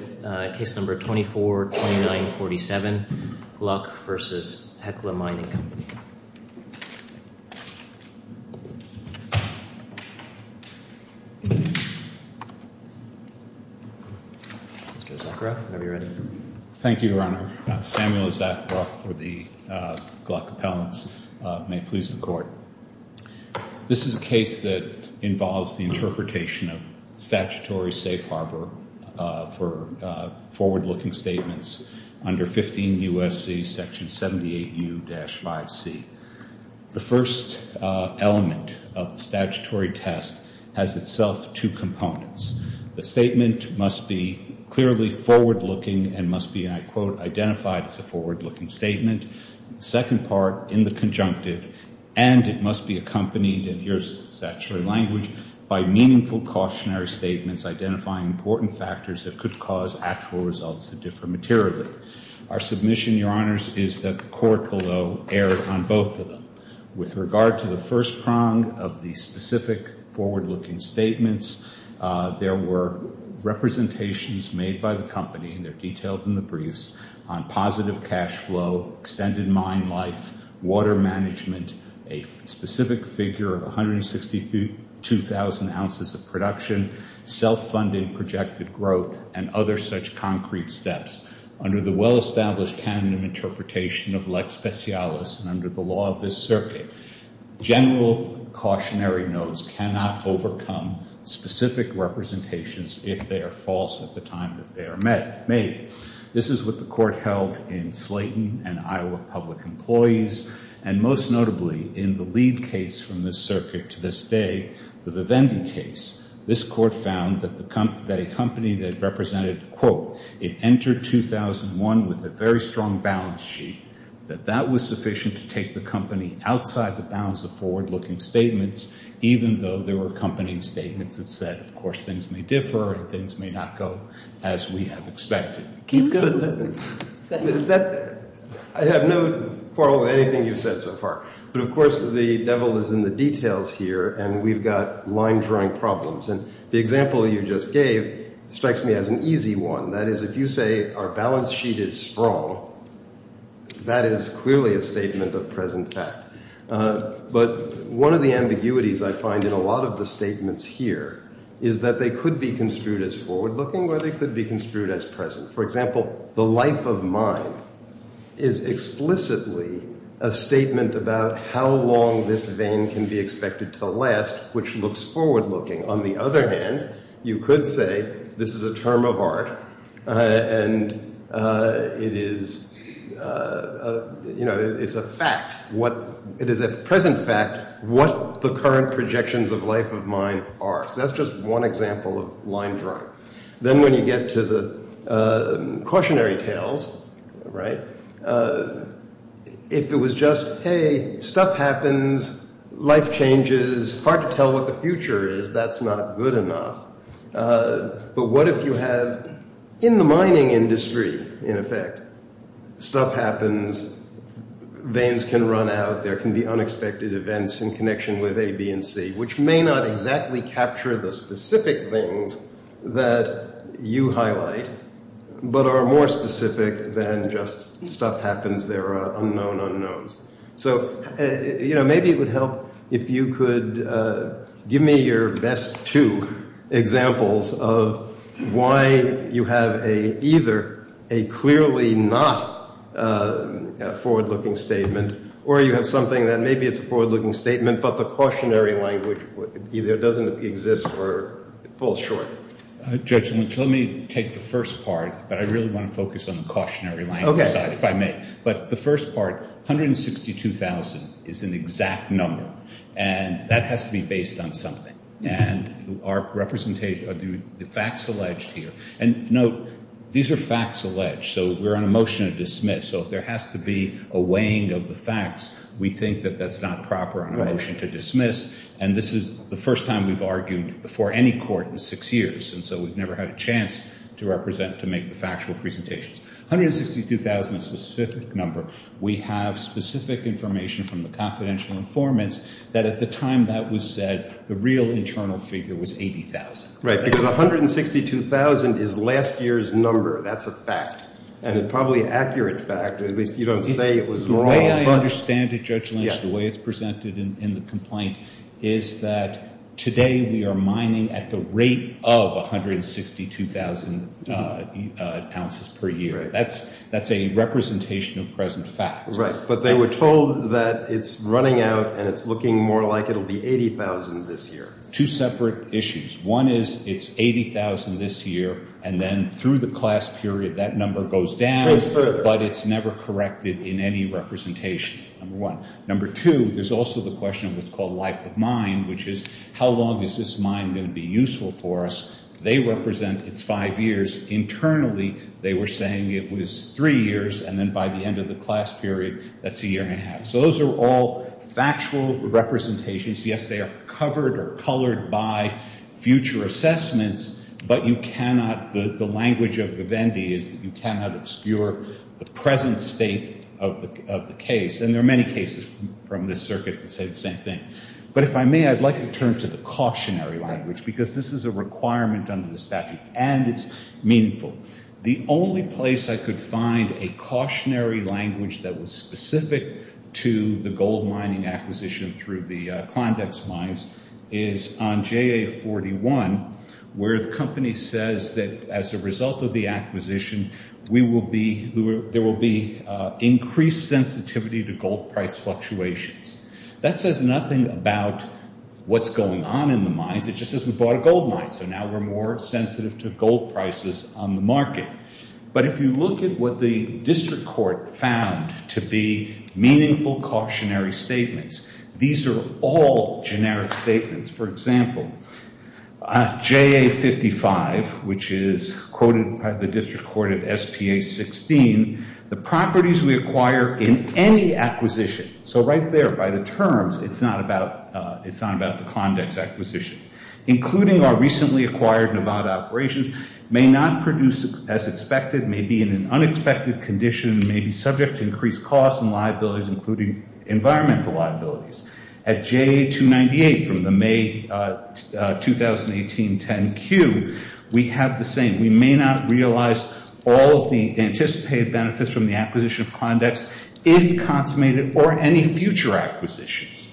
with case number 242947, Gluck v. Hecla Mining Company. Mr. Zakharoff, whenever you're ready. Thank you, Your Honor. Samuel Zakharoff for the Gluck Appellants. May it please the Court. This is a case that involves the interpretation of statutory safe harbor for forward-looking statements under 15 U.S.C. Section 78U-5C. The first element of the statutory test has itself two components. The statement must be clearly forward-looking and must be, and I quote, identified as a forward-looking statement. The second part in the conjunctive, and it must be accompanied, and here's the statutory language, by meaningful cautionary statements identifying important factors that could cause actual results to differ materially. Our submission, Your Honors, is that the court below erred on both of them. With regard to the first prong of the specific forward-looking statements, there were representations made by the company, and they're detailed in the briefs, on positive cash flow, extended mine life, water management, a specific figure of 162,000 ounces of production, self-funded projected growth, and other such concrete steps. Under the well-established canon and interpretation of lex specialis and under the law of this circuit, general cautionary notes cannot overcome specific representations if they are false at the time that they are made. This is what the court held in Slayton and Iowa Public Employees, and most notably in the lead case from this circuit to this day, the Vivendi case, this court found that a company that represented, quote, it entered 2001 with a very strong balance sheet, that that was sufficient to take the company outside the bounds of forward-looking statements, even though there were accompanying statements that said, of course, things may differ and things may not go as we have expected. Keep going. I have no quarrel with anything you've said so far, but, of course, the devil is in the details here, and we've got line-drawing problems, and the example you just gave strikes me as an easy one. That is, if you say our balance sheet is strong, that is clearly a statement of present fact. But one of the ambiguities I find in a lot of the statements here is that they could be construed as forward-looking or they could be construed as present. For example, the life of mine is explicitly a statement about how long this vein can be expected to last, which looks forward-looking. On the other hand, you could say this is a term of art and it is a fact. It is a present fact what the current projections of life of mine are. So that's just one example of line-drawing. Then when you get to the cautionary tales, right, if it was just, hey, stuff happens, life changes, it's hard to tell what the future is, that's not good enough. But what if you have, in the mining industry, in effect, stuff happens, veins can run out, there can be unexpected events in connection with A, B, and C, which may not exactly capture the specific things that you highlight, but are more specific than just stuff happens, there are unknown unknowns. So, you know, maybe it would help if you could give me your best two examples of why you have either a clearly not forward-looking statement or you have something that maybe it's a forward-looking statement but the cautionary language either doesn't exist or falls short. Judge Lynch, let me take the first part, but I really want to focus on the cautionary language side, if I may. But the first part, 162,000 is an exact number, and that has to be based on something. And our representation of the facts alleged here, and note, these are facts alleged, so we're on a motion to dismiss, so if there has to be a weighing of the facts, we think that that's not proper on a motion to dismiss, and this is the first time we've argued before any court in six years, and so we've never had a chance to represent, to make the factual presentations. 162,000 is a specific number. We have specific information from the confidential informants that at the time that was said, the real internal figure was 80,000. Right, because 162,000 is last year's number. That's a fact, and probably an accurate fact, at least you don't say it was wrong. The way I understand it, Judge Lynch, the way it's presented in the complaint, is that today we are mining at the rate of 162,000 ounces per year. That's a representation of present facts. Right, but they were told that it's running out and it's looking more like it will be 80,000 this year. Two separate issues. One is it's 80,000 this year, and then through the class period that number goes down, but it's never corrected in any representation, number one. Number two, there's also the question of what's called life of mine, which is how long is this mine going to be useful for us? They represent it's five years. Internally, they were saying it was three years, and then by the end of the class period, that's a year and a half. So those are all factual representations. Yes, they are covered or colored by future assessments, but you cannot, the language of Vivendi is that you cannot obscure the present state of the case, and there are many cases from this circuit that say the same thing. But if I may, I'd like to turn to the cautionary language, because this is a requirement under the statute, and it's meaningful. The only place I could find a cautionary language that was specific to the gold mining acquisition through the Klondex mines is on JA41, where the company says that as a result of the acquisition, there will be increased sensitivity to gold price fluctuations. That says nothing about what's going on in the mines. It just says we bought a gold mine, so now we're more sensitive to gold prices on the market. But if you look at what the district court found to be meaningful cautionary statements, these are all generic statements. For example, JA55, which is quoted by the district court at SPA16, the properties we acquire in any acquisition, so right there by the terms, it's not about the Klondex acquisition, including our recently acquired Nevada operations, may not produce as expected, may be in an unexpected condition, may be subject to increased costs and liabilities, including environmental liabilities. At JA298 from the May 2018 10Q, we have the same. We may not realize all of the anticipated benefits from the acquisition of Klondex, any consummated or any future acquisitions.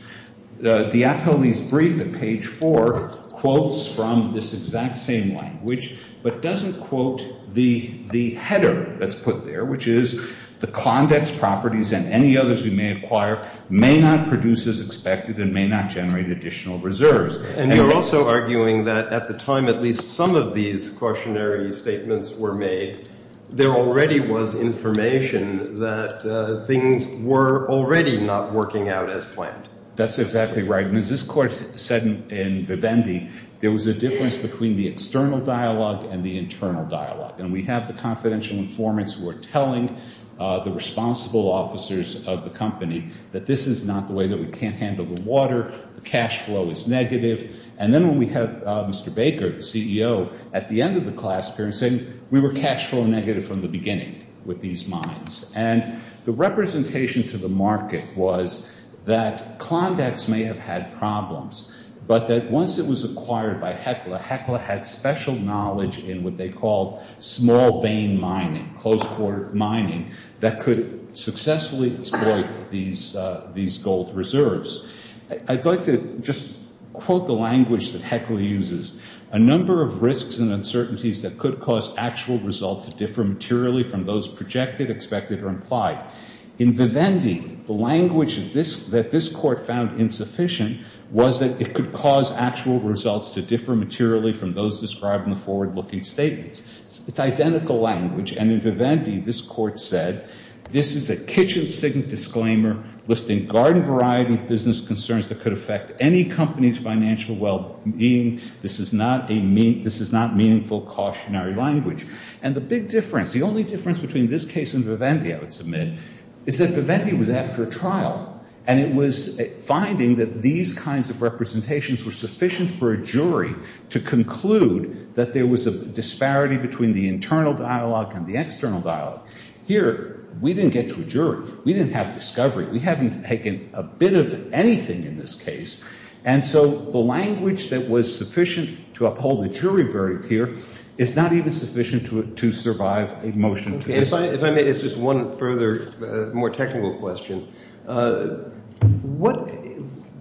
The appellee's brief at page 4 quotes from this exact same language, but doesn't quote the header that's put there, which is the Klondex properties and any others we may acquire may not produce as expected and may not generate additional reserves. And you're also arguing that at the time at least some of these cautionary statements were made, there already was information that things were already not working out as planned. That's exactly right. And as this court said in Vivendi, there was a difference between the external dialogue and the internal dialogue. And we have the confidential informants who are telling the responsible officers of the company that this is not the way, that we can't handle the water, the cash flow is negative. And then when we have Mr. Baker, the CEO, at the end of the class appearance, saying we were cash flow negative from the beginning with these mines. And the representation to the market was that Klondex may have had problems, but that once it was acquired by HECLA, HECLA had special knowledge in what they called small vein mining, close port mining, that could successfully exploit these gold reserves. I'd like to just quote the language that HECLA uses. A number of risks and uncertainties that could cause actual results to differ materially from those projected, expected, or implied. In Vivendi, the language that this court found insufficient was that it could cause actual results to differ materially from those described in the forward-looking statements. It's identical language, and in Vivendi, this court said, this is a kitchen sink disclaimer listing garden-variety business concerns that could affect any company's financial well-being. This is not meaningful cautionary language. And the big difference, the only difference between this case and Vivendi, I would submit, is that Vivendi was after a trial, and it was finding that these kinds of representations were sufficient for a jury to conclude that there was a disparity between the internal dialogue and the external dialogue. Here, we didn't get to a jury. We didn't have discovery. We haven't taken a bit of anything in this case, and so the language that was sufficient to uphold the jury verdict here is not even sufficient to survive a motion to the court. If I may, it's just one further more technical question.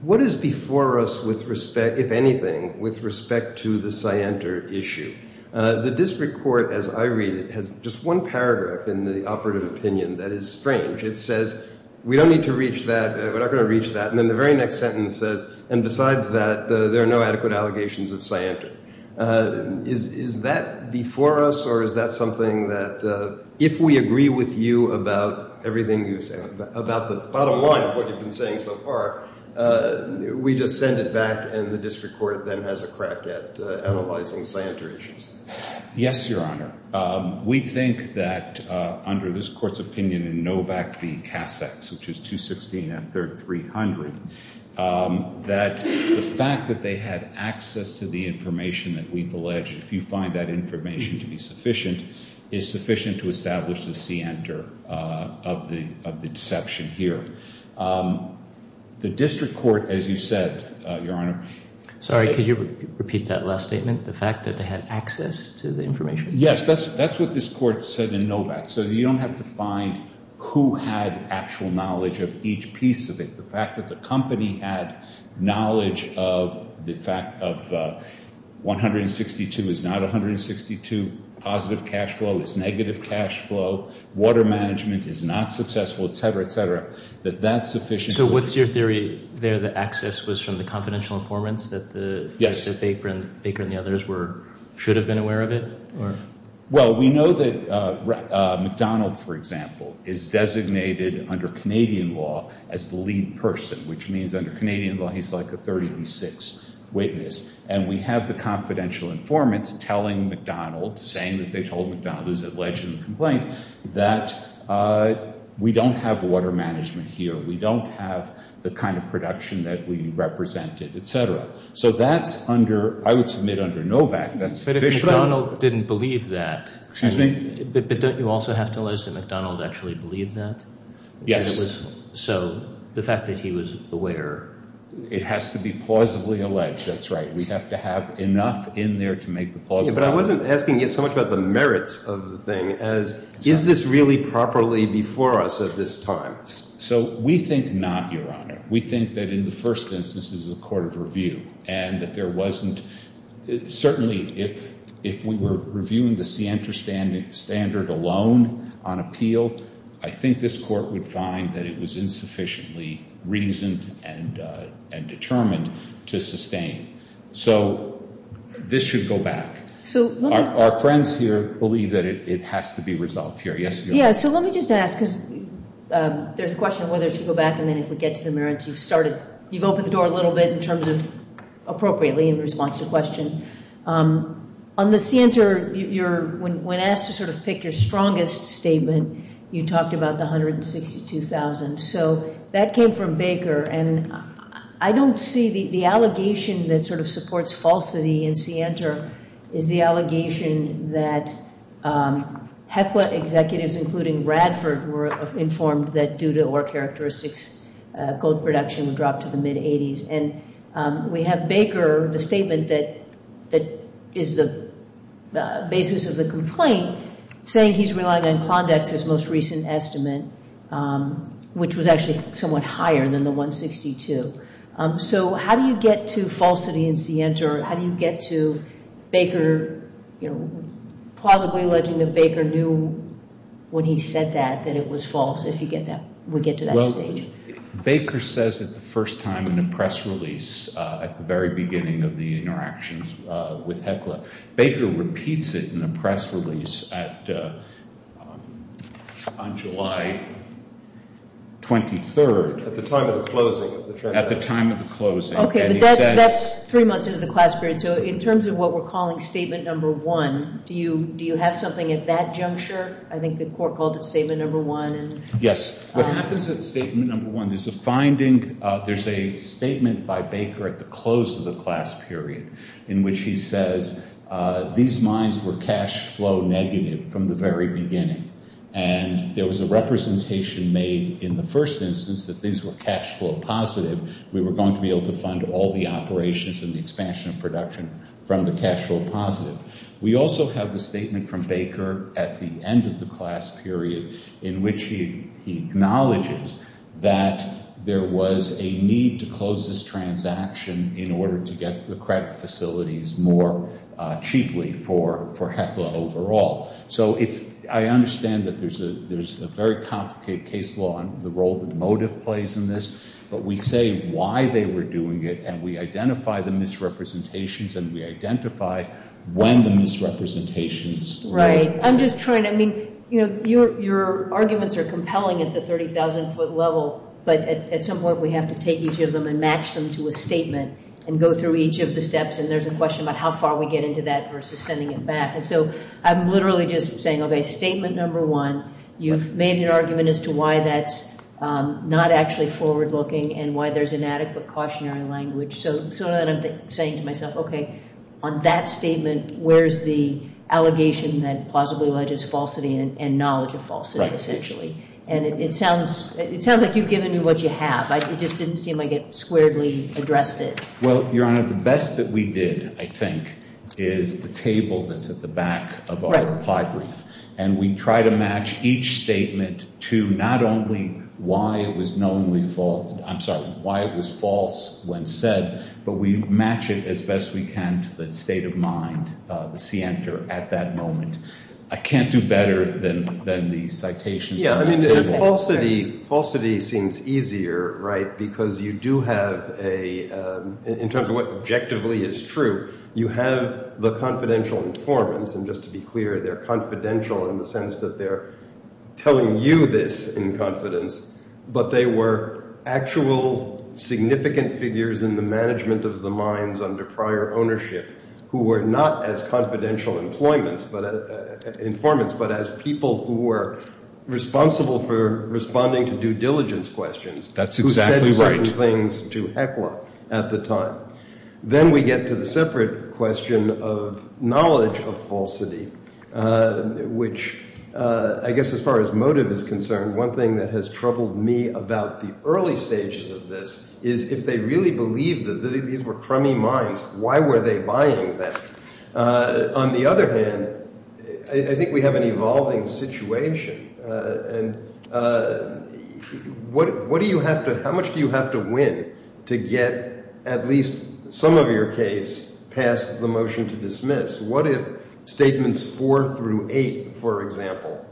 What is before us with respect, if anything, with respect to the scienter issue? The district court, as I read it, has just one paragraph in the operative opinion that is strange. It says, we don't need to reach that, we're not going to reach that, and then the very next sentence says, and besides that, there are no adequate allegations of scienter. Is that before us, or is that something that if we agree with you about everything you've said, about the bottom line of what you've been saying so far, we just send it back and the district court then has a crack at analyzing scienter issues? Yes, Your Honor. We think that under this court's opinion in Novak v. Cassex, which is 216 F. 3rd, 300, that the fact that they had access to the information that we've alleged, if you find that information to be sufficient, is sufficient to establish the scienter of the deception here. The district court, as you said, Your Honor. Sorry, could you repeat that last statement, the fact that they had access to the information? Yes, that's what this court said in Novak. So you don't have to find who had actual knowledge of each piece of it. The fact that the company had knowledge of the fact of 162 is not 162, positive cash flow is negative cash flow, water management is not successful, et cetera, et cetera, that that's sufficient. So what's your theory there that access was from the confidential informants that Baker and the others should have been aware of it? Well, we know that McDonald's, for example, is designated under Canadian law as the lead person, which means under Canadian law he's like a 36 witness, and we have the confidential informants telling McDonald's, saying that they told McDonald's alleged complaint, that we don't have water management here, we don't have the kind of production that we represented, et cetera. So that's under, I would submit under Novak, that's sufficient. But McDonald's didn't believe that. Excuse me? But don't you also have to allege that McDonald's actually believed that? Yes. So the fact that he was aware. It has to be plausibly alleged. That's right. We have to have enough in there to make the – But I wasn't asking you so much about the merits of the thing as is this really properly before us at this time? So we think not, Your Honor. We think that in the first instance this is a court of review and that there wasn't – certainly if we were reviewing the scienter standard alone on appeal, I think this court would find that it was insufficiently reasoned and determined to sustain. So this should go back. Our friends here believe that it has to be resolved here. Yes, Your Honor. Yeah, so let me just ask because there's a question on whether to go back and then if we get to the merits you've started – you've opened the door a little bit in terms of appropriately in response to the question. On the scienter, when asked to sort of pick your strongest statement, you talked about the $162,000. So that came from Baker, and I don't see the allegation that sort of supports falsity in scienter is the allegation that HECWA executives, including Bradford, were informed that due to or characteristics, gold production would drop to the mid-'80s. And we have Baker, the statement that is the basis of the complaint, saying he's relying on Klondike's most recent estimate, which was actually somewhat higher than the $162,000. So how do you get to falsity in scienter? How do you get to Baker – you know, plausibly alleging that Baker knew when he said that that it was false if you get that – would get to that stage? Well, Baker says it the first time in a press release at the very beginning of the interactions with HECWA. Baker repeats it in a press release on July 23rd. At the time of the closing. At the time of the closing. Okay, but that's three months into the class period. So in terms of what we're calling statement number one, do you have something at that juncture? I think the court called it statement number one. Yes. What happens at statement number one, there's a finding – there's a statement by Baker at the close of the class period in which he says these mines were cash flow negative from the very beginning. And there was a representation made in the first instance that these were cash flow positive. We were going to be able to fund all the operations and the expansion of production from the cash flow positive. We also have the statement from Baker at the end of the class period in which he acknowledges that there was a need to close this transaction in order to get the credit facilities more cheaply for HECWA overall. So it's – I understand that there's a very complicated case law and the role that the motive plays in this. But we say why they were doing it, and we identify the misrepresentations, and we identify when the misrepresentations – Right. I'm just trying to – I mean, your arguments are compelling at the 30,000-foot level, but at some point we have to take each of them and match them to a statement and go through each of the steps. And there's a question about how far we get into that versus sending it back. And so I'm literally just saying, okay, statement number one, you've made an argument as to why that's not actually forward-looking and why there's inadequate cautionary language. So then I'm saying to myself, okay, on that statement, where's the allegation that plausibly alleges falsity and knowledge of falsity essentially? And it sounds like you've given me what you have. It just didn't seem like it squarely addressed it. Well, Your Honor, the best that we did, I think, is the table that's at the back of our reply brief. And we try to match each statement to not only why it was knowingly – I'm sorry, why it was false when said, but we match it as best we can to the state of mind, the scienter, at that moment. I can't do better than the citations on that table. Yeah, I mean, falsity seems easier, right, because you do have a – in terms of what objectively is true, you have the confidential informants, and just to be clear, they're confidential in the sense that they're telling you this in confidence, but they were actual significant figures in the management of the minds under prior ownership who were not as confidential informants but as people who were responsible for responding to due diligence questions. That's exactly right. Who said certain things to heckle at the time. Then we get to the separate question of knowledge of falsity, which I guess as far as motive is concerned, one thing that has troubled me about the early stages of this is if they really believed that these were crummy minds, why were they buying this? On the other hand, I think we have an evolving situation. What do you have to – how much do you have to win to get at least some of your case passed the motion to dismiss? What if statements four through eight, for example,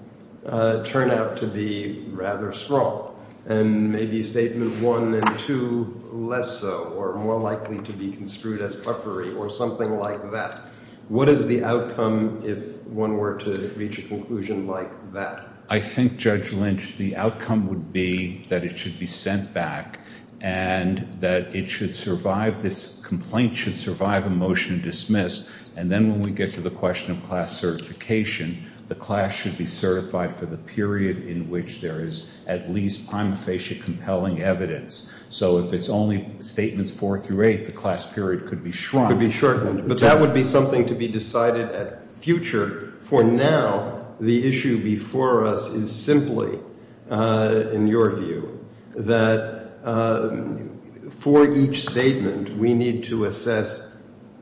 turn out to be rather strong and maybe statement one and two less so or more likely to be construed as puffery or something like that? What is the outcome if one were to reach a conclusion like that? I think, Judge Lynch, the outcome would be that it should be sent back and that it should survive – this complaint should survive a motion to dismiss, and then when we get to the question of class certification, the class should be certified for the period in which there is at least prima facie compelling evidence. So if it's only statements four through eight, the class period could be shrunk. It could be shortened, but that would be something to be decided at future. For now, the issue before us is simply, in your view, that for each statement we need to assess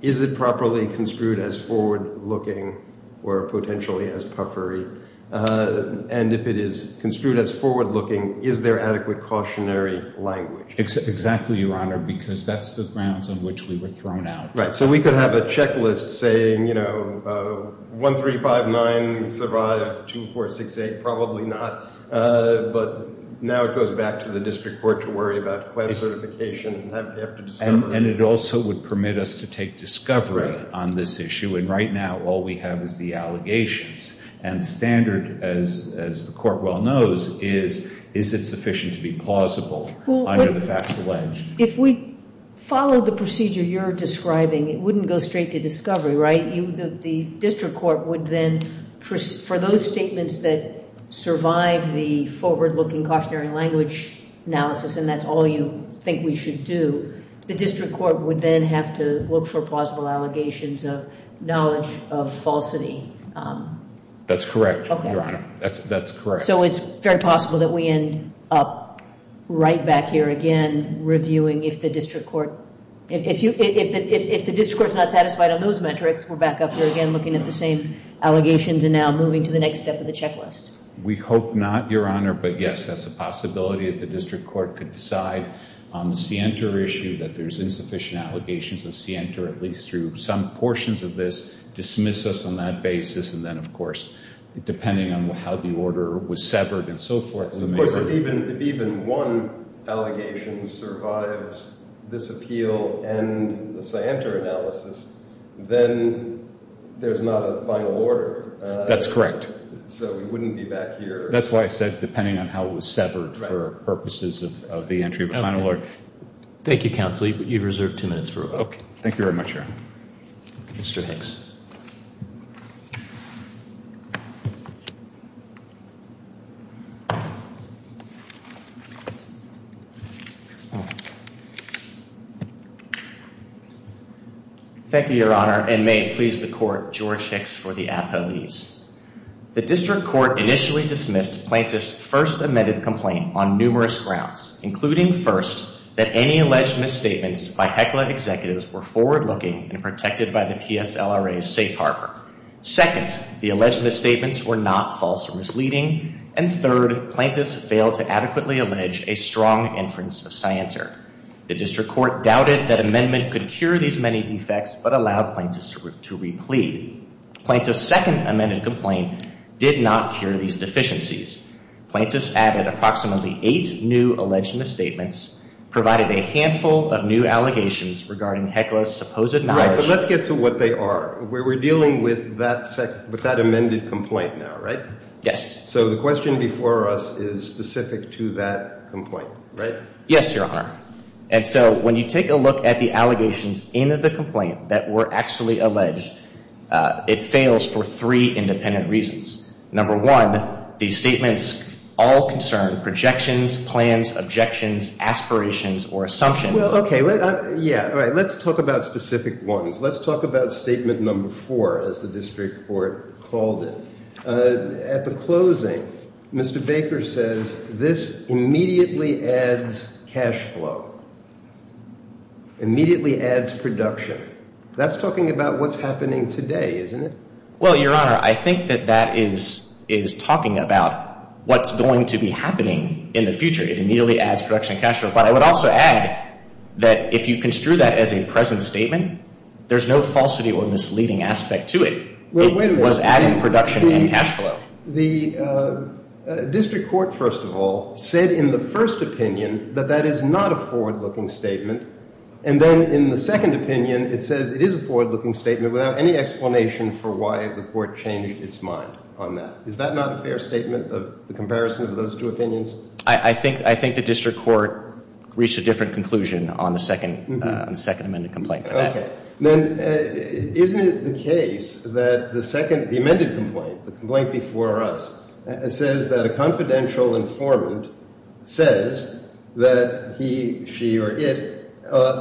is it properly construed as forward-looking or potentially as puffery, and if it is construed as forward-looking, is there adequate cautionary language? Exactly, Your Honor, because that's the grounds on which we were thrown out. Right. So we could have a checklist saying, you know, one, three, five, nine, survive, two, four, six, eight. Probably not, but now it goes back to the district court to worry about class certification. And it also would permit us to take discovery on this issue, and right now all we have is the allegations. And standard, as the court well knows, is is it sufficient to be plausible under the facts alleged? If we followed the procedure you're describing, it wouldn't go straight to discovery, right? The district court would then, for those statements that survive the forward-looking cautionary language analysis, and that's all you think we should do, the district court would then have to look for plausible allegations of knowledge of falsity. That's correct, Your Honor. That's correct. So it's very possible that we end up right back here again reviewing if the district court, if the district court's not satisfied on those metrics, we're back up here again looking at the same allegations and now moving to the next step of the checklist. We hope not, Your Honor, but yes, that's a possibility that the district court could decide on the Sienta issue, that there's insufficient allegations of Sienta, at least through some portions of this, dismiss us on that basis, and then, of course, depending on how the order was severed and so forth. Of course, if even one allegation survives this appeal and the Sienta analysis, then there's not a final order. That's correct. So we wouldn't be back here. That's why I said depending on how it was severed for purposes of the entry of a final order. Thank you, Counselee, but you've reserved two minutes for revoke. Thank you very much, Your Honor. Mr. Hicks. Thank you, Your Honor, and may it please the court, George Hicks for the appellees. The district court initially dismissed Plaintiff's first amended complaint on numerous grounds, including, first, that any alleged misstatements by Heckler executives were forward-looking and protected by the PSLRA's safe harbor. Second, the alleged misstatements were not false or misleading. And third, Plaintiff's failed to adequately allege a strong inference of Sienta. The district court doubted that amendment could cure these many defects but allowed Plaintiff's to replead. Plaintiff's second amended complaint did not cure these deficiencies. Plaintiff's added approximately eight new alleged misstatements, provided a handful of new allegations regarding Heckler's supposed knowledge. Right, but let's get to what they are. We're dealing with that amended complaint now, right? Yes. So the question before us is specific to that complaint, right? Yes, Your Honor. And so when you take a look at the allegations in the complaint that were actually alleged, it fails for three independent reasons. Number one, these statements all concern projections, plans, objections, aspirations, or assumptions. Well, okay. Yeah, all right. Let's talk about specific ones. Let's talk about statement number four, as the district court called it. At the closing, Mr. Baker says this immediately adds cash flow, immediately adds production. That's talking about what's happening today, isn't it? Well, Your Honor, I think that that is talking about what's going to be happening in the future. It immediately adds production and cash flow. But I would also add that if you construe that as a present statement, there's no falsity or misleading aspect to it. It was adding production and cash flow. The district court, first of all, said in the first opinion that that is not a forward-looking statement. And then in the second opinion, it says it is a forward-looking statement without any explanation for why the court changed its mind on that. Is that not a fair statement of the comparison of those two opinions? I think the district court reached a different conclusion on the second amended complaint. Okay. Then isn't it the case that the second amended complaint, the complaint before us, says that a confidential informant says that he, she, or it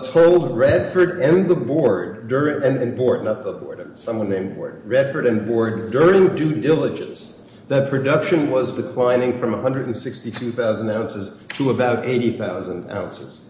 told Radford and the board during due diligence that production was declining from 162,000 ounces to about 80,000 ounces?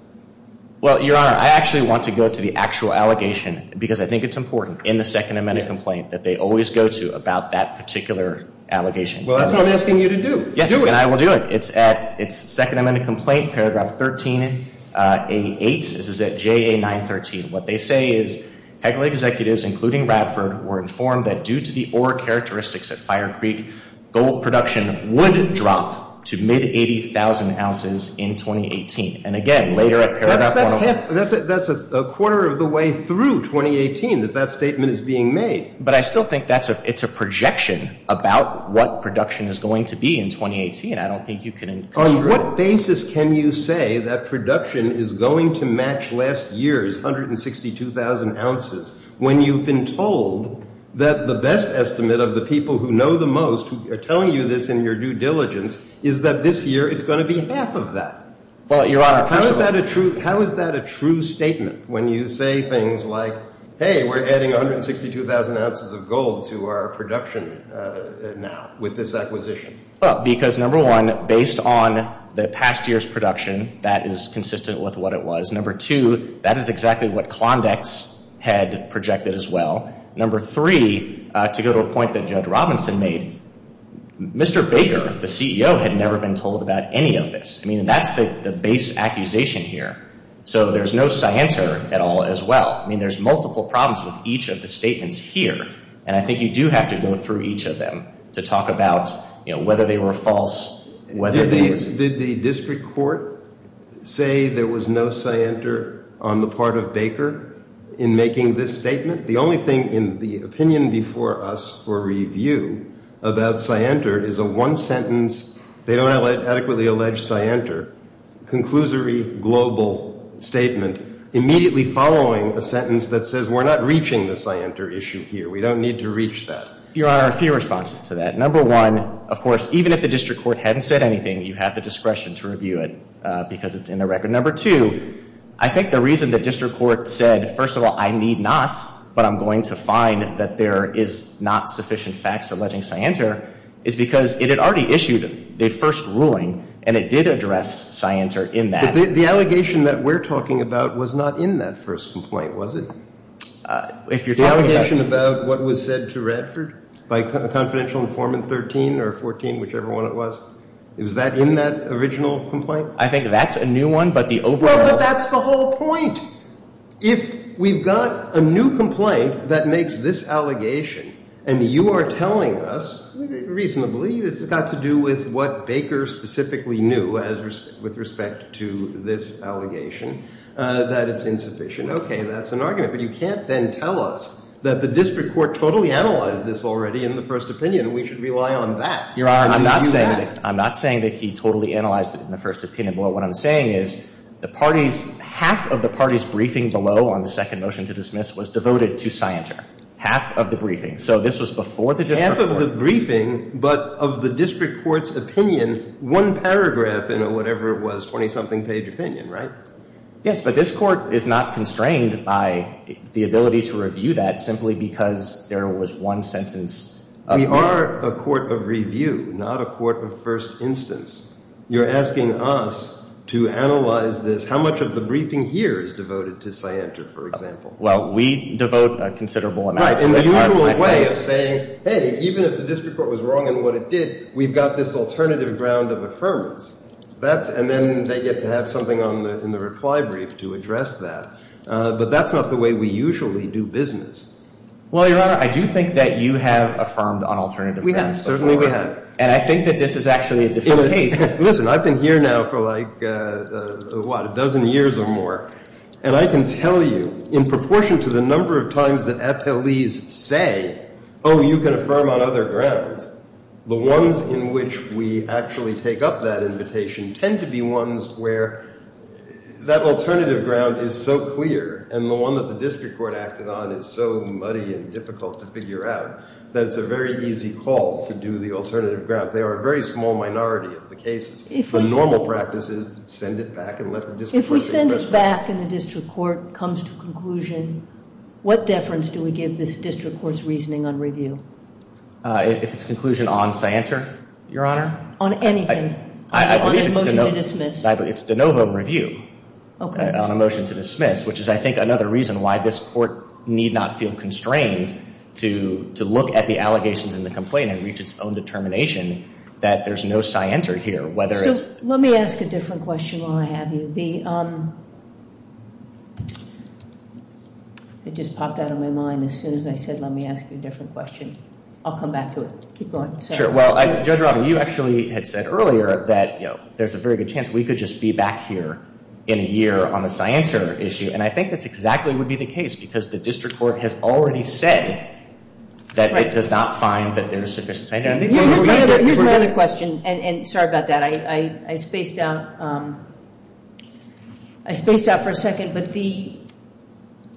Well, Your Honor, I actually want to go to the actual allegation because I think it's important in the second amended complaint that they always go to about that particular allegation. Well, that's what I'm asking you to do. Yes, and I will do it. It's second amended complaint, paragraph 13A8. This is at JA913. What they say is Hegel executives, including Radford, were informed that due to the ore characteristics at Fire Creek, gold production would drop to mid-80,000 ounces in 2018. And again, later at paragraph 11. That's a quarter of the way through 2018 that that statement is being made. But I still think it's a projection about what production is going to be in 2018. I don't think you can construe it. On what basis can you say that production is going to match last year's 162,000 ounces when you've been told that the best estimate of the people who know the most, who are telling you this in your due diligence, is that this year it's going to be half of that? How is that a true statement when you say things like, hey, we're adding 162,000 ounces of gold to our production now with this acquisition? Well, because number one, based on the past year's production, that is consistent with what it was. Number two, that is exactly what Klondex had projected as well. Number three, to go to a point that Judge Robinson made, Mr. Baker, the CEO, had never been told about any of this. I mean, that's the base accusation here. So there's no scienter at all as well. I mean, there's multiple problems with each of the statements here. And I think you do have to go through each of them to talk about whether they were false. Did the district court say there was no scienter on the part of Baker in making this statement? The only thing in the opinion before us for review about scienter is a one-sentence, they don't adequately allege scienter, conclusory global statement immediately following a sentence that says we're not reaching the scienter issue here. We don't need to reach that. Your Honor, a few responses to that. Number one, of course, even if the district court hadn't said anything, you have the discretion to review it because it's in the record. Number two, I think the reason the district court said, first of all, I need not, but I'm going to find that there is not sufficient facts alleging scienter, is because it had already issued the first ruling, and it did address scienter in that. But the allegation that we're talking about was not in that first complaint, was it? If you're talking about – The allegation about what was said to Radford by confidential informant 13 or 14, whichever one it was, is that in that original complaint? I think that's a new one, but the overall – But that's the whole point. If we've got a new complaint that makes this allegation, and you are telling us reasonably it's got to do with what Baker specifically knew with respect to this allegation, that it's insufficient, okay, that's an argument. But you can't then tell us that the district court totally analyzed this already in the first opinion. We should rely on that. I'm not saying that he totally analyzed it in the first opinion. What I'm saying is the parties – half of the party's briefing below on the second motion to dismiss was devoted to scienter, half of the briefing. So this was before the district court. Half of the briefing, but of the district court's opinion, one paragraph in a whatever it was, 20-something page opinion, right? Yes, but this court is not constrained by the ability to review that simply because there was one sentence. We are a court of review, not a court of first instance. You're asking us to analyze this. How much of the briefing here is devoted to scienter, for example? Well, we devote a considerable amount. Right, in the usual way of saying, hey, even if the district court was wrong in what it did, we've got this alternative ground of affirmance. And then they get to have something in the reply brief to address that. But that's not the way we usually do business. Well, Your Honor, I do think that you have affirmed on alternative grounds before. We have. Certainly we have. And I think that this is actually a different case. Listen, I've been here now for like, what, a dozen years or more. And I can tell you in proportion to the number of times that FLEs say, oh, you can affirm on other grounds, the ones in which we actually take up that invitation tend to be ones where that alternative ground is so clear and the one that the district court acted on is so muddy and difficult to figure out that it's a very easy call to do the alternative ground. They are a very small minority of the cases. The normal practice is to send it back and let the district court take it. If we send it back and the district court comes to a conclusion, what deference do we give this district court's reasoning on review? If it's a conclusion on scienter, Your Honor? On anything. I believe it's de novo. On a motion to dismiss. It's de novo review. Okay. On a motion to dismiss, which is, I think, another reason why this court need not feel constrained to look at the allegations in the complaint and reach its own determination that there's no scienter here. So let me ask a different question while I have you. It just popped out of my mind as soon as I said let me ask you a different question. I'll come back to it. Keep going. Sure. Well, Judge Robin, you actually had said earlier that there's a very good chance we could just be back here in a year on the scienter issue, and I think that exactly would be the case because the district court has already said that it does not find that there's sufficient scienter. Here's my other question, and sorry about that. I spaced out for a second, but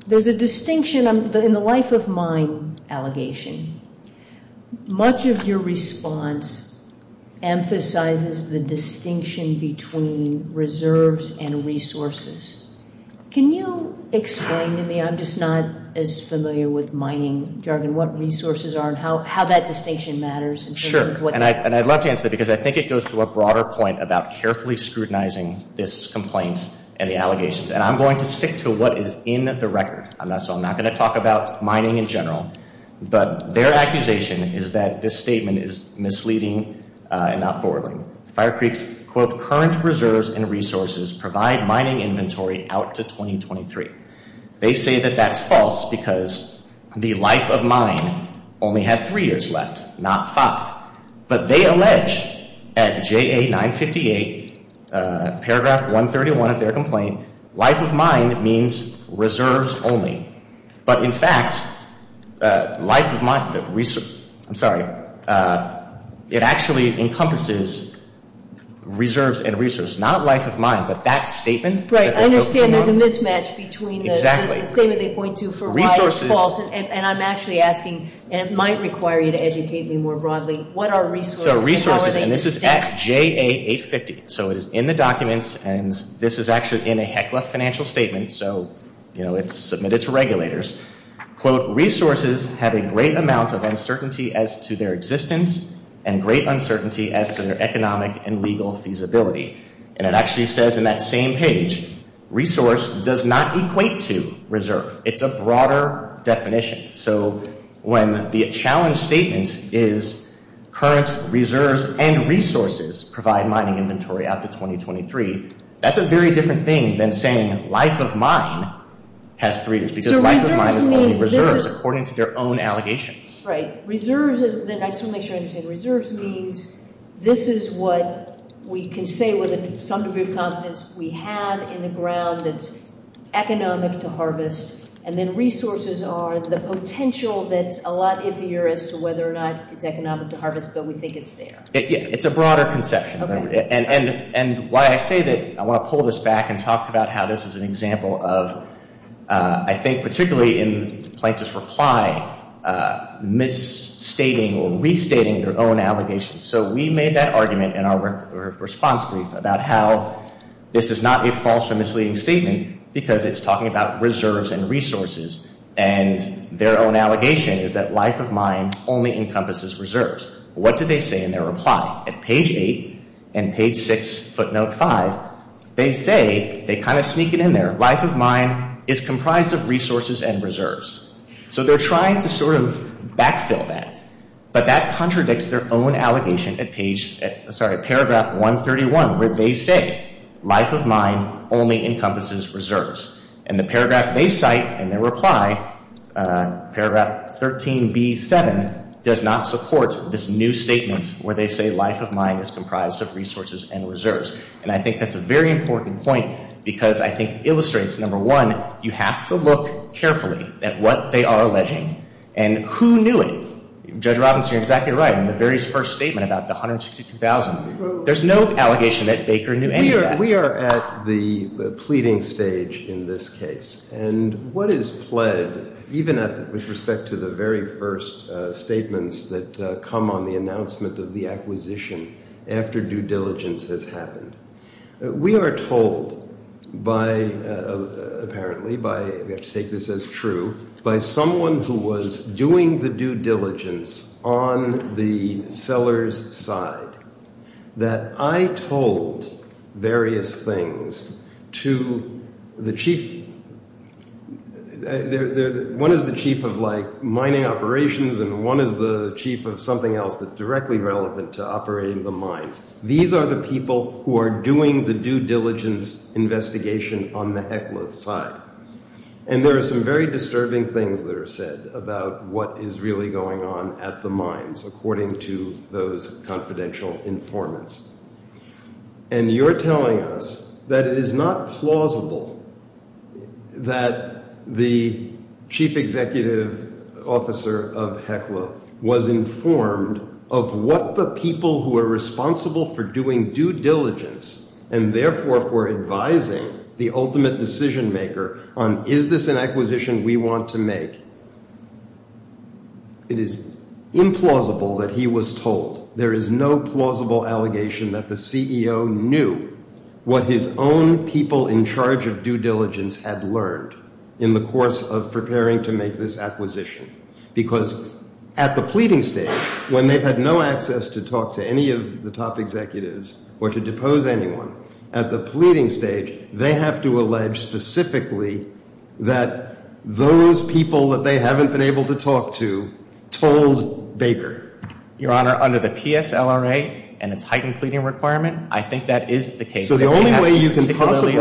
there's a distinction in the life of mine allegation. Much of your response emphasizes the distinction between reserves and resources. Can you explain to me, I'm just not as familiar with mining jargon, what resources are and how that distinction matters? Sure. And I'd love to answer that because I think it goes to a broader point about carefully scrutinizing this complaint and the allegations, and I'm going to stick to what is in the record. I'm not going to talk about mining in general, but their accusation is that this statement is misleading and not forwarding. Fire Creek's, quote, current reserves and resources provide mining inventory out to 2023. They say that that's false because the life of mine only had three years left, not five. But they allege at JA 958, paragraph 131 of their complaint, life of mine means reserves only. But in fact, life of mine, I'm sorry, it actually encompasses reserves and resources. Not life of mine, but that statement. Right. I understand there's a mismatch between the statement they point to for why it's false, and I'm actually asking, and it might require you to educate me more broadly, what are resources and how are they used? So resources, and this is at JA 850, so it is in the documents, and this is actually in a Heckler financial statement, so, you know, it's submitted to regulators. Quote, resources have a great amount of uncertainty as to their existence and great uncertainty as to their economic and legal feasibility. And it actually says in that same page, resource does not equate to reserve. It's a broader definition. So when the challenge statement is current reserves and resources provide mining inventory after 2023, that's a very different thing than saying life of mine has three years, because life of mine is only reserves according to their own allegations. Right. Reserves is, and I just want to make sure I understand, reserves means this is what we can say with some degree of confidence we have in the ground that it's economic to harvest, and then resources are the potential that's a lot iffier as to whether or not it's economic to harvest, but we think it's there. It's a broader conception. And why I say that, I want to pull this back and talk about how this is an example of, I think, particularly in the plaintiff's reply, misstating or restating their own allegations. So we made that argument in our response brief about how this is not a false or misleading statement, because it's talking about reserves and resources, and their own allegation is that life of mine only encompasses reserves. What did they say in their reply? At page 8 and page 6, footnote 5, they say, they kind of sneak it in there, life of mine is comprised of resources and reserves. So they're trying to sort of backfill that, but that contradicts their own allegation at paragraph 131, where they say life of mine only encompasses reserves. And the paragraph they cite in their reply, paragraph 13b7, does not support this new statement where they say life of mine is comprised of resources and reserves. And I think that's a very important point, because I think it illustrates, number one, you have to look carefully at what they are alleging and who knew it. Judge Robinson, you're exactly right. In the very first statement about the $162,000, there's no allegation that Baker knew any of that. We are at the pleading stage in this case. And what is pled, even with respect to the very first statements that come on the announcement of the acquisition after due diligence has happened? We are told by, apparently by, we have to take this as true, by someone who was doing the due diligence on the seller's side, that I told various things to the chief, one is the chief of, like, mining operations, and one is the chief of something else that's directly relevant to operating the mines. These are the people who are doing the due diligence investigation on the HECLA side. And there are some very disturbing things that are said about what is really going on at the mines, according to those confidential informants. And you're telling us that it is not plausible that the chief executive officer of HECLA was informed of what the people who are responsible for doing due diligence and therefore for advising the ultimate decision maker on, is this an acquisition we want to make? It is implausible that he was told. There is no plausible allegation that the CEO knew what his own people in charge of due diligence had learned in the course of preparing to make this acquisition. Because at the pleading stage, when they've had no access to talk to any of the top executives or to depose anyone, at the pleading stage, they have to allege specifically that those people that they haven't been able to talk to told Baker. Your Honor, under the PSLRA and its heightened pleading requirement, I think that is the case. So the only way you can possibly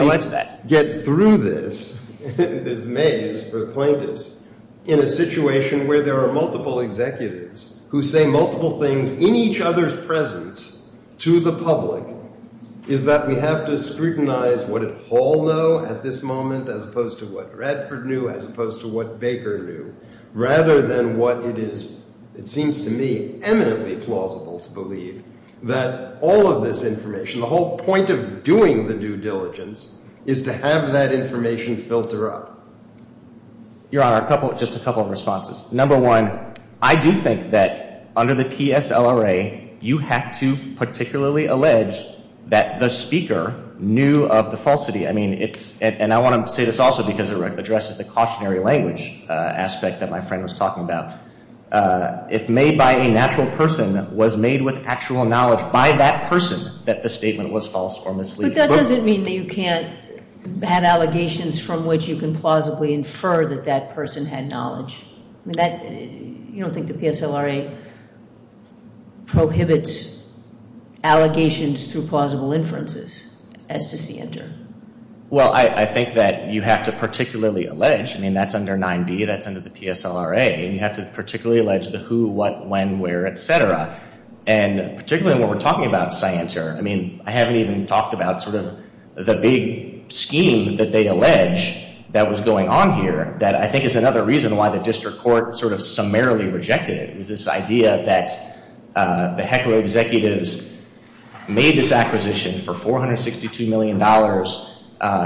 get through this, this maze for the plaintiffs, in a situation where there are multiple executives who say multiple things in each other's presence to the public, is that we have to scrutinize what did Hall know at this moment as opposed to what Bradford knew, as opposed to what Baker knew, rather than what it is, it seems to me, eminently plausible to believe, that all of this information, the whole point of doing the due diligence, is to have that information filter up. Your Honor, just a couple of responses. Number one, I do think that under the PSLRA, you have to particularly allege that the speaker knew of the falsity. And I want to say this also because it addresses the cautionary language aspect that my friend was talking about. If made by a natural person, was made with actual knowledge by that person, that the statement was false or misleading. But that doesn't mean that you can't have allegations from which you can plausibly infer that that person had knowledge. I mean, you don't think the PSLRA prohibits allegations through plausible inferences, as to see enter? Well, I think that you have to particularly allege, I mean, that's under 9b, that's under the PSLRA, and you have to particularly allege the who, what, when, where, etc. And particularly when we're talking about science here, I mean, I haven't even talked about sort of the big scheme that they allege that was going on here, that I think is another reason why the district court sort of summarily rejected it. It was this idea that the HECLA executives made this acquisition for $462 million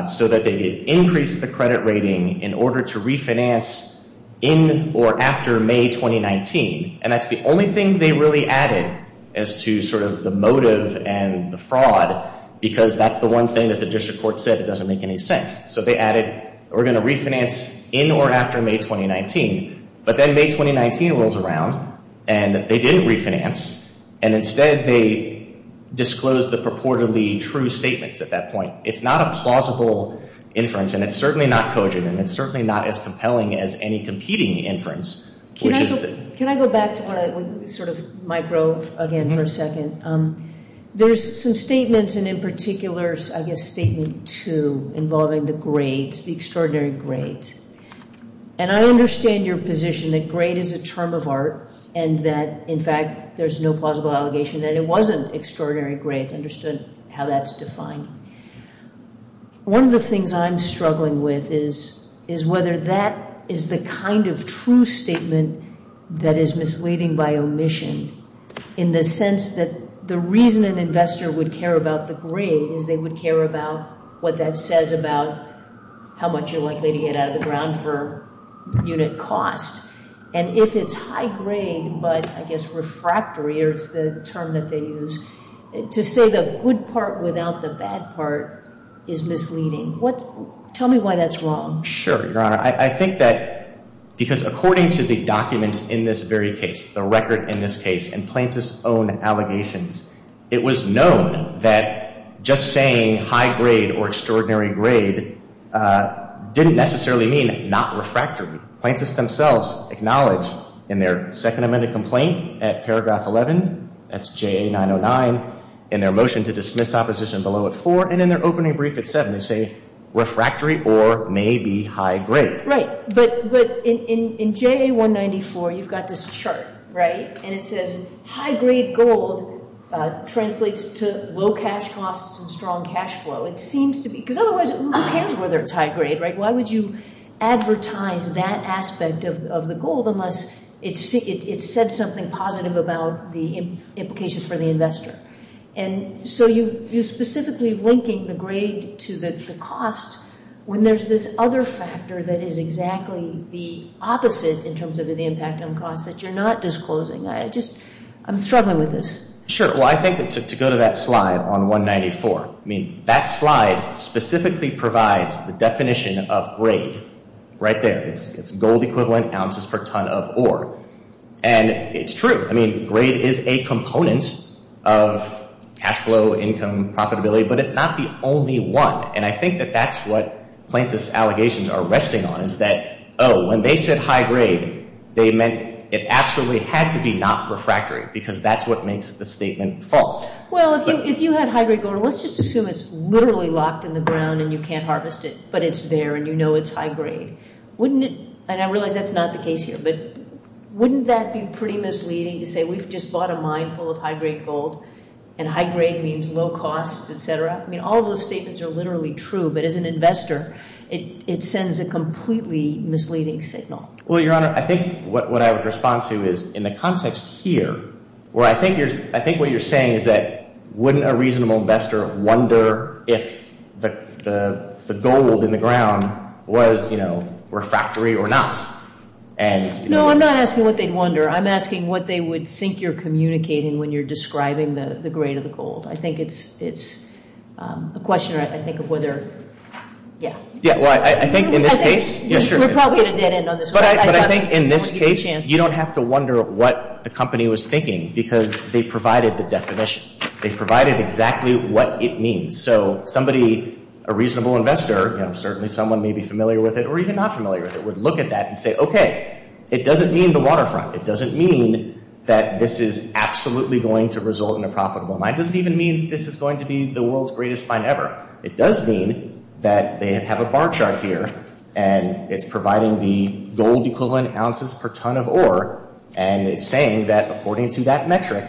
so that they could increase the credit rating in order to refinance in or after May 2019. And that's the only thing they really added as to sort of the motive and the fraud, because that's the one thing that the district court said that doesn't make any sense. So they added, we're going to refinance in or after May 2019. But then May 2019 rolls around, and they didn't refinance, and instead they disclosed the purportedly true statements at that point. It's not a plausible inference, and it's certainly not cogent, and it's certainly not as compelling as any competing inference. Can I go back to sort of micro again for a second? There's some statements, and in particular, I guess, Statement 2 involving the grades, the extraordinary grades. And I understand your position that grade is a term of art, and that, in fact, there's no plausible allegation that it wasn't extraordinary grades. I understood how that's defined. One of the things I'm struggling with is whether that is the kind of true statement that is misleading by omission in the sense that the reason an investor would care about the grade is they would care about what that says about how much you're likely to get out of the ground for unit cost. And if it's high grade, but I guess refractory is the term that they use, to say the good part without the bad part is misleading. Tell me why that's wrong. Sure, Your Honor. I think that because according to the documents in this very case, the record in this case, and Plaintiff's own allegations, it was known that just saying high grade or extraordinary grade didn't necessarily mean not refractory. Plaintiffs themselves acknowledge in their second amended complaint at paragraph 11, that's JA 909, in their motion to dismiss opposition below at 4, and in their opening brief at 7, they say refractory or maybe high grade. Right. But in JA 194, you've got this chart, right? And it says high grade gold translates to low cash costs and strong cash flow. It seems to be. Because otherwise, who cares whether it's high grade, right? Why would you advertise that aspect of the gold unless it said something positive about the implications for the investor? And so you're specifically linking the grade to the cost when there's this other factor that is exactly the opposite in terms of the impact on costs that you're not disclosing. I'm struggling with this. Sure. Well, I think to go to that slide on 194, I mean, that slide specifically provides the definition of grade right there. It's gold equivalent ounces per ton of ore. And it's true. I mean, grade is a component of cash flow, income, profitability, but it's not the only one. And I think that that's what plaintiffs' allegations are resting on is that, oh, when they said high grade, they meant it absolutely had to be not refractory because that's what makes the statement false. Well, if you had high grade gold, let's just assume it's literally locked in the ground and you can't harvest it, but it's there and you know it's high grade. And I realize that's not the case here, but wouldn't that be pretty misleading to say we've just bought a mine full of high grade gold and high grade means low costs, et cetera? I mean, all those statements are literally true, but as an investor, it sends a completely misleading signal. Well, Your Honor, I think what I would respond to is in the context here, where I think what you're saying is that wouldn't a reasonable investor wonder if the gold in the ground was refractory or not? No, I'm not asking what they'd wonder. I'm asking what they would think you're communicating when you're describing the grade of the gold. I think it's a question, I think, of whether – yeah. Yeah, well, I think in this case – We're probably at a dead end on this one. But I think in this case, you don't have to wonder what the company was thinking because they provided the definition. They provided exactly what it means. So somebody, a reasonable investor, certainly someone maybe familiar with it or even not familiar with it, would look at that and say, okay, it doesn't mean the waterfront. It doesn't mean that this is absolutely going to result in a profitable mine. It doesn't even mean this is going to be the world's greatest mine ever. It does mean that they have a bar chart here, and it's providing the gold equivalent ounces per ton of ore, and it's saying that according to that metric,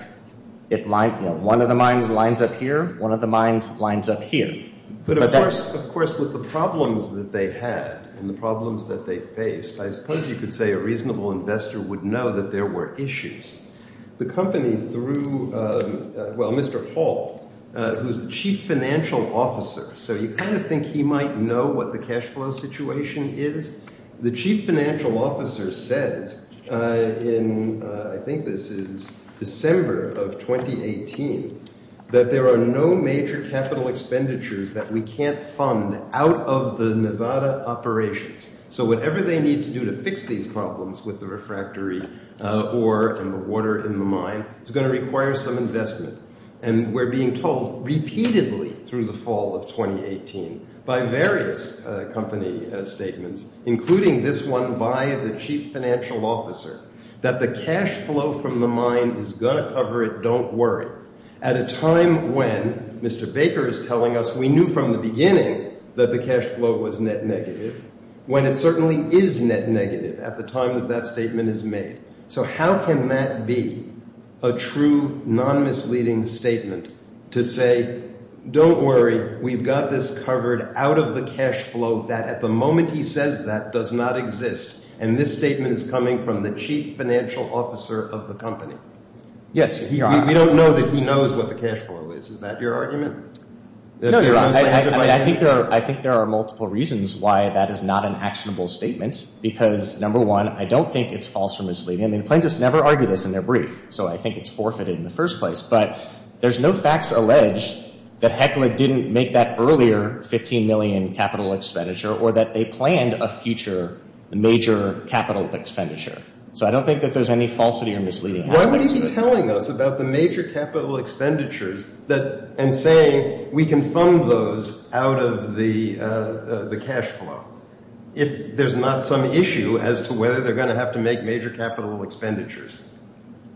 one of the mines lines up here, one of the mines lines up here. But of course with the problems that they had and the problems that they faced, I suppose you could say a reasonable investor would know that there were issues. The company threw – well, Mr. Hall, who is the chief financial officer, so you kind of think he might know what the cash flow situation is. The chief financial officer says in – I think this is December of 2018 – that there are no major capital expenditures that we can't fund out of the Nevada operations. So whatever they need to do to fix these problems with the refractory ore and the water in the mine is going to require some investment. And we're being told repeatedly through the fall of 2018 by various company statements, including this one by the chief financial officer, that the cash flow from the mine is going to cover it, don't worry. At a time when, Mr. Baker is telling us, we knew from the beginning that the cash flow was net negative, when it certainly is net negative at the time that that statement is made. So how can that be a true, non-misleading statement to say, don't worry, we've got this covered out of the cash flow that at the moment he says that does not exist. And this statement is coming from the chief financial officer of the company. Yes, we don't know that he knows what the cash flow is. Is that your argument? No, you're right. I think there are multiple reasons why that is not an actionable statement. Because, number one, I don't think it's false or misleading. The plaintiffs never argue this in their brief, so I think it's forfeited in the first place. But there's no facts alleged that Heckler didn't make that earlier 15 million capital expenditure or that they planned a future major capital expenditure. So I don't think that there's any falsity or misleading. Why would he be telling us about the major capital expenditures and saying we can fund those out of the cash flow if there's not some issue as to whether they're going to have to make major capital expenditures?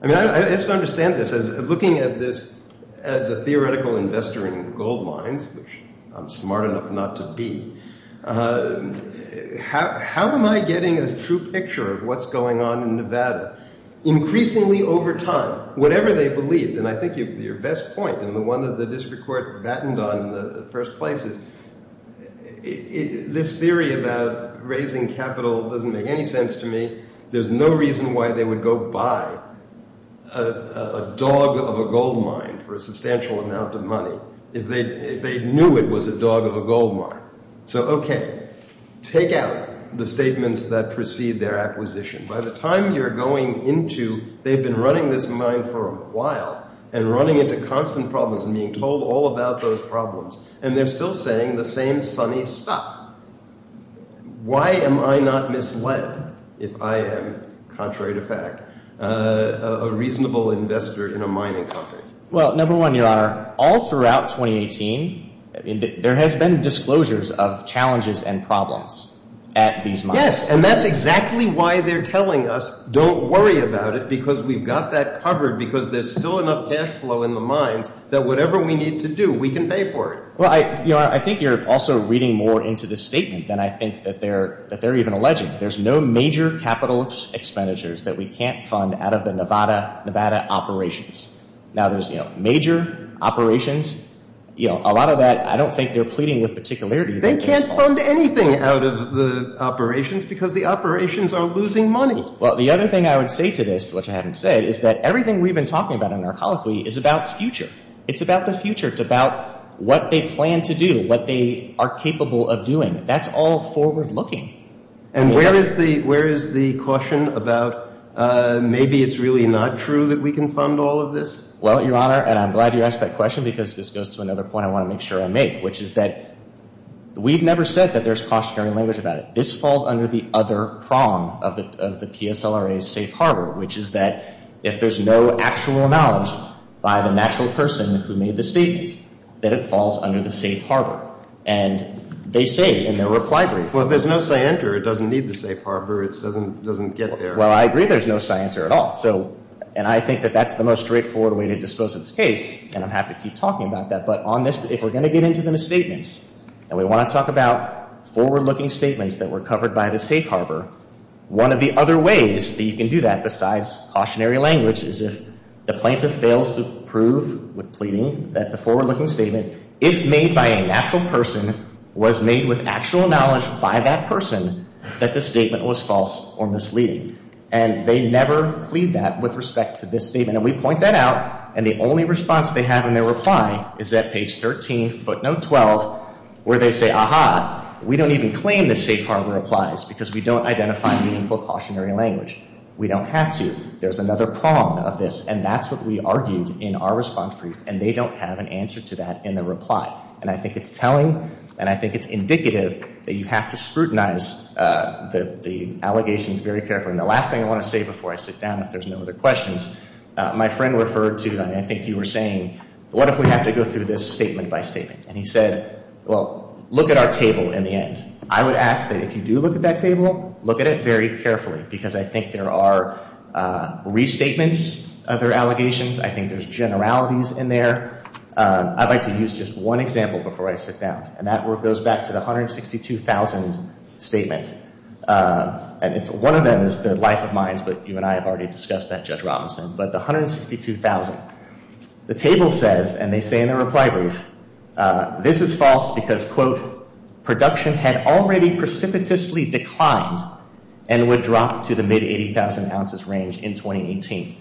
I mean, I have to understand this. Looking at this as a theoretical investor in gold mines, which I'm smart enough not to be, how am I getting a true picture of what's going on in Nevada? Increasingly over time, whatever they believed, and I think your best point and the one that the district court battened on in the first place is this theory about raising capital doesn't make any sense to me. There's no reason why they would go buy a dog of a gold mine for a substantial amount of money if they knew it was a dog of a gold mine. So, okay, take out the statements that precede their acquisition. By the time you're going into they've been running this mine for a while and running into constant problems and being told all about those problems and they're still saying the same sunny stuff. Why am I not misled if I am, contrary to fact, a reasonable investor in a mining company? Well, number one, your honor, all throughout 2018, there has been disclosures of challenges and problems at these mines. Yes, and that's exactly why they're telling us don't worry about it because we've got that covered because there's still enough cash flow in the mines that whatever we need to do, we can pay for it. Well, I think you're also reading more into the statement than I think that they're even alleging. There's no major capital expenditures that we can't fund out of the Nevada operations. Now, there's major operations. A lot of that I don't think they're pleading with particularity. They can't fund anything out of the operations because the operations are losing money. Well, the other thing I would say to this, which I haven't said, is that everything we've been talking about in our colloquy is about the future. It's about the future. It's about what they plan to do, what they are capable of doing. That's all forward looking. And where is the caution about maybe it's really not true that we can fund all of this? Well, your honor, and I'm glad you asked that question because this goes to another point I want to make sure I make, which is that we've never said that there's cautionary language about it. This falls under the other prong of the PSLRA's safe harbor, which is that if there's no actual knowledge by the natural person who made the statement, that it falls under the safe harbor. And they say in their reply brief. Well, if there's no scienter, it doesn't need the safe harbor. It doesn't get there. Well, I agree there's no scienter at all. And I think that that's the most straightforward way to dispose of this case, and I'm happy to keep talking about that. But on this, if we're going to get into the misstatements, and we want to talk about forward-looking statements that were covered by the safe harbor, one of the other ways that you can do that besides cautionary language is if the plaintiff fails to prove with pleading that the forward-looking statement, if made by a natural person, was made with actual knowledge by that person, that the statement was false or misleading. And they never plead that with respect to this statement. And we point that out, and the only response they have in their reply is at page 13, footnote 12, where they say, aha, we don't even claim the safe harbor replies because we don't identify meaningful cautionary language. We don't have to. There's another prong of this, and that's what we argued in our response brief, and they don't have an answer to that in their reply. And I think it's telling, and I think it's indicative that you have to scrutinize the allegations very carefully. And the last thing I want to say before I sit down, if there's no other questions, my friend referred to, and I think you were saying, what if we have to go through this statement by statement? And he said, well, look at our table in the end. I would ask that if you do look at that table, look at it very carefully, because I think there are restatements of their allegations. I think there's generalities in there. I'd like to use just one example before I sit down, and that goes back to the 162,000 statements. One of them is the life of mines, but you and I have already discussed that, Judge Robinson. But the 162,000. The table says, and they say in their reply brief, this is false because, quote, production had already precipitously declined and would drop to the mid-80,000 ounces range in 2018.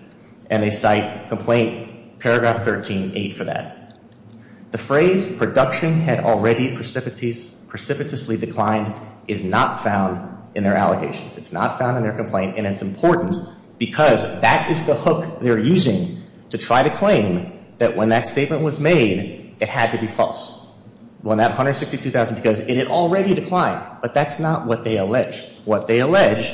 And they cite complaint paragraph 13.8 for that. The phrase production had already precipitously declined is not found in their allegations. It's not found in their complaint, and it's important because that is the hook they're using to try to claim that when that statement was made, it had to be false. When that 162,000, because it had already declined. But that's not what they allege. What they allege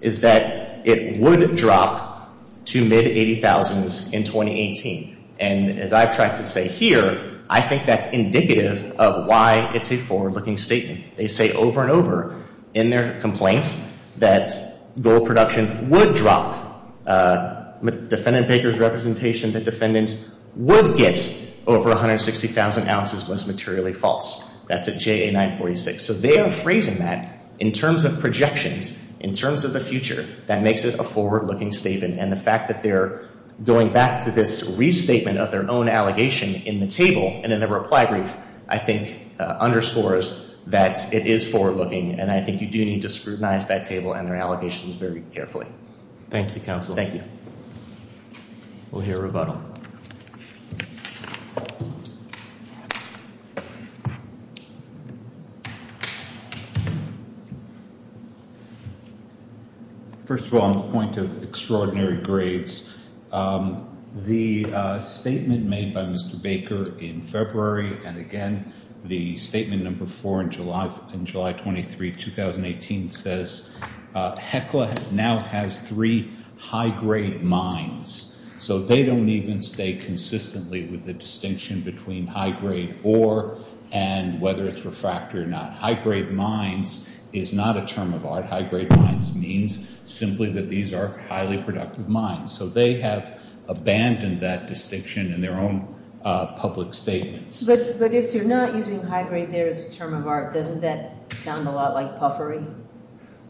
is that it would drop to mid-80,000s in 2018. And as I've tried to say here, I think that's indicative of why it's a forward-looking statement. They say over and over in their complaint that gold production would drop. Defendant Baker's representation that defendants would get over 160,000 ounces was materially false. That's at JA 946. So they are phrasing that in terms of projections, in terms of the future. That makes it a forward-looking statement. And the fact that they're going back to this restatement of their own allegation in the table and in the reply brief, I think, underscores that it is forward-looking. And I think you do need to scrutinize that table and their allegations very carefully. Thank you, counsel. Thank you. We'll hear rebuttal. First of all, on the point of extraordinary grades, the statement made by Mr. Baker in February, and, again, the statement number four in July 23, 2018, says HECLA now has three high-grade mines. So they don't even stay consistently with the distinction between high-grade ore and whether it's refractory or not. High-grade mines is not a term of art. High-grade mines means simply that these are highly productive mines. So they have abandoned that distinction in their own public statements. But if you're not using high-grade there as a term of art, doesn't that sound a lot like puffery?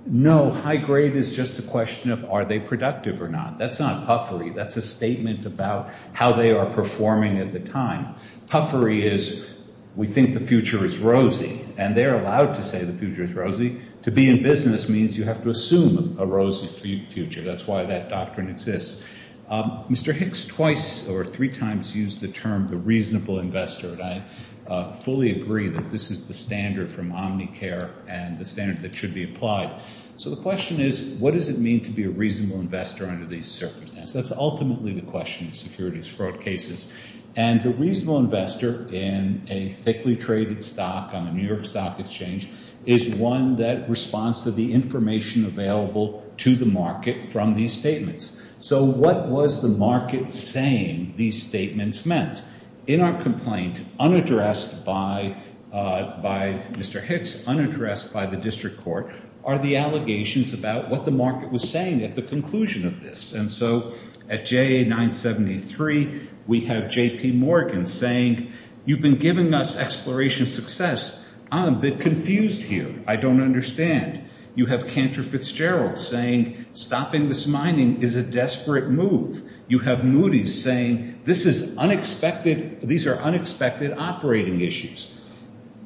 No. High-grade is just a question of are they productive or not. That's not puffery. That's a statement about how they are performing at the time. Puffery is we think the future is rosy, and they're allowed to say the future is rosy. To be in business means you have to assume a rosy future. That's why that doctrine exists. Mr. Hicks twice or three times used the term the reasonable investor, and I fully agree that this is the standard from Omnicare and the standard that should be applied. So the question is what does it mean to be a reasonable investor under these circumstances? That's ultimately the question in securities fraud cases. And the reasonable investor in a thickly traded stock on the New York Stock Exchange is one that responds to the information available to the market from these statements. So what was the market saying these statements meant? In our complaint, unaddressed by Mr. Hicks, unaddressed by the district court, are the allegations about what the market was saying at the conclusion of this. And so at JA973, we have J.P. Morgan saying you've been giving us exploration success. I'm a bit confused here. I don't understand. You have Cantor Fitzgerald saying stopping this mining is a desperate move. You have Moody's saying this is unexpected. These are unexpected operating issues.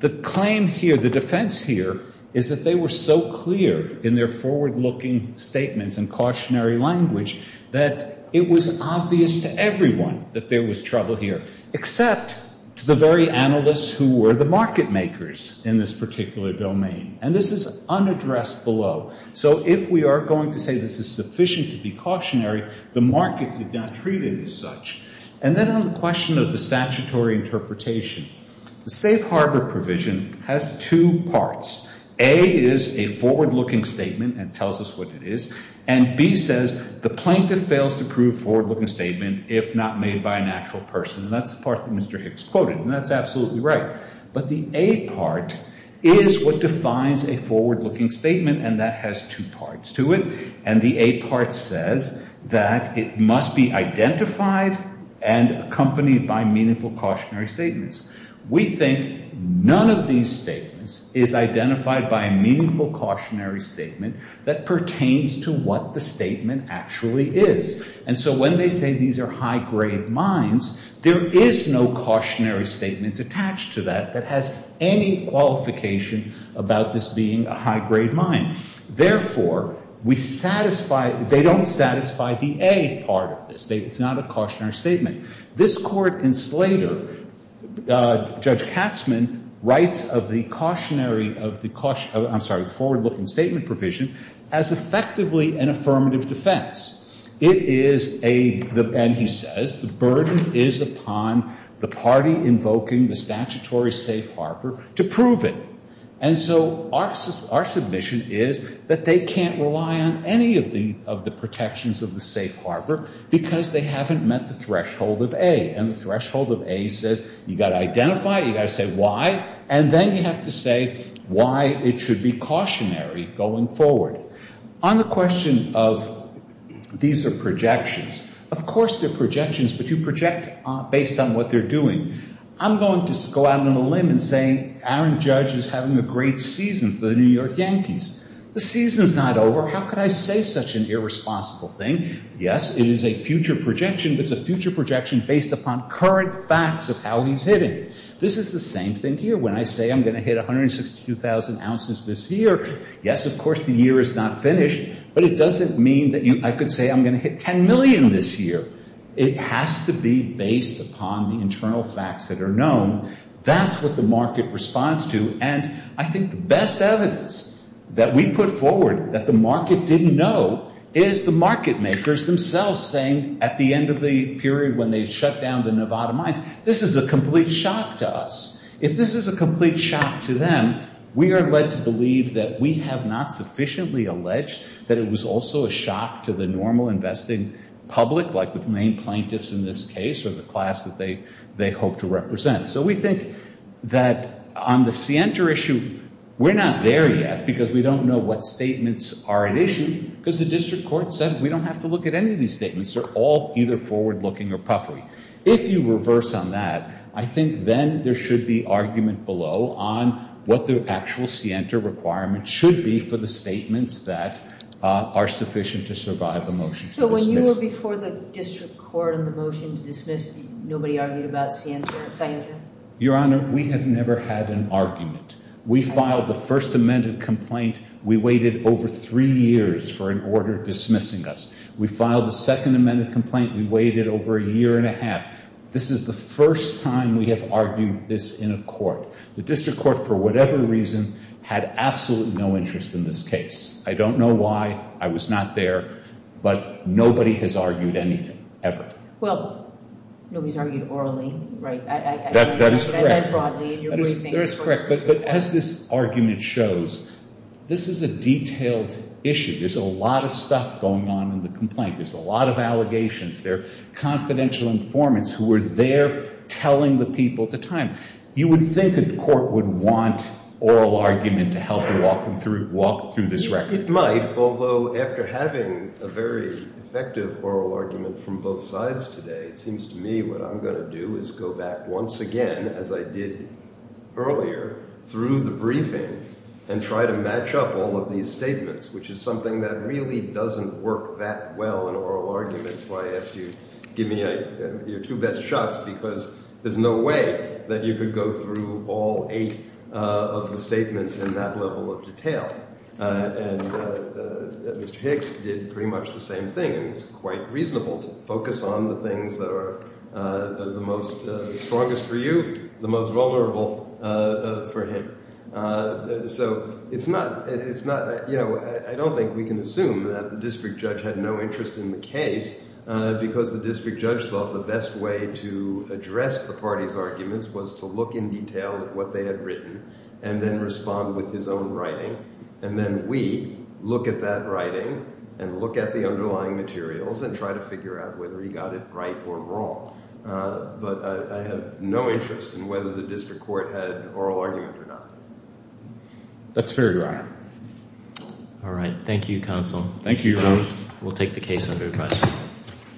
The claim here, the defense here, is that they were so clear in their forward-looking statements and cautionary language that it was obvious to everyone that there was trouble here, except to the very analysts who were the market makers in this particular domain. And this is unaddressed below. So if we are going to say this is sufficient to be cautionary, the market did not treat it as such. And then on the question of the statutory interpretation, the safe harbor provision has two parts. A is a forward-looking statement and tells us what it is. And B says the plaintiff fails to prove forward-looking statement if not made by an actual person. And that's the part that Mr. Hicks quoted, and that's absolutely right. But the A part is what defines a forward-looking statement, and that has two parts to it. And the A part says that it must be identified and accompanied by meaningful cautionary statements. We think none of these statements is identified by a meaningful cautionary statement that pertains to what the statement actually is. And so when they say these are high-grade mines, there is no cautionary statement attached to that that has any qualification about this being a high-grade mine. Therefore, we satisfy the — they don't satisfy the A part of this. It's not a cautionary statement. This Court in Slater, Judge Katzman, writes of the cautionary — of the cautionary — I'm sorry, the forward-looking statement provision as effectively an affirmative defense. It is a — and he says the burden is upon the party invoking the statutory safe harbor to prove it. And so our submission is that they can't rely on any of the protections of the safe harbor because they haven't met the threshold of A. And the threshold of A says you've got to identify it, you've got to say why, and then you have to say why it should be cautionary going forward. On the question of these are projections, of course they're projections, but you project based on what they're doing. I'm going to go out on a limb and say Aaron Judge is having a great season for the New York Yankees. The season's not over. How could I say such an irresponsible thing? Yes, it is a future projection, but it's a future projection based upon current facts of how he's hitting. This is the same thing here. When I say I'm going to hit 162,000 ounces this year, yes, of course, the year is not finished, but it doesn't mean that I could say I'm going to hit 10 million this year. It has to be based upon the internal facts that are known. That's what the market responds to, and I think the best evidence that we put forward that the market didn't know is the market makers themselves saying at the end of the period when they shut down the Nevada mines, this is a complete shock to us. If this is a complete shock to them, we are led to believe that we have not sufficiently alleged that it was also a shock to the normal investing public, like the main plaintiffs in this case or the class that they hope to represent. So we think that on the Sienta issue, we're not there yet because we don't know what statements are at issue because the district court said we don't have to look at any of these statements. They're all either forward-looking or puffery. If you reverse on that, I think then there should be argument below on what the actual Sienta requirement should be for the statements that are sufficient to survive a motion to dismiss. So when you were before the district court on the motion to dismiss, nobody argued about Sienta? Your Honor, we have never had an argument. We filed the first amended complaint. We waited over three years for an order dismissing us. We filed the second amended complaint. We waited over a year and a half. This is the first time we have argued this in a court. The district court, for whatever reason, had absolutely no interest in this case. I don't know why. I was not there. But nobody has argued anything, ever. Well, nobody's argued orally, right? That is correct. That is correct. But as this argument shows, this is a detailed issue. There's a lot of stuff going on in the complaint. There's a lot of allegations. There are confidential informants who were there telling the people at the time. You would think a court would want oral argument to help them walk through this record. It might, although after having a very effective oral argument from both sides today, it seems to me what I'm going to do is go back once again, as I did earlier, through the briefing and try to match up all of these statements, which is something that really doesn't work that well in oral arguments. Why ask you to give me your two best shots? Because there's no way that you could go through all eight of the statements in that level of detail. And Mr. Hicks did pretty much the same thing. And it's quite reasonable to focus on the things that are the most strongest for you, the most vulnerable for him. So it's not, you know, I don't think we can assume that the district judge had no interest in the case because the district judge thought the best way to address the party's arguments was to look in detail at what they had written and then respond with his own writing. And then we look at that writing and look at the underlying materials and try to figure out whether he got it right or wrong. But I have no interest in whether the district court had an oral argument or not. That's fair, Your Honor. All right. Thank you, Counsel. Thank you, Your Honor. We'll take the case under review.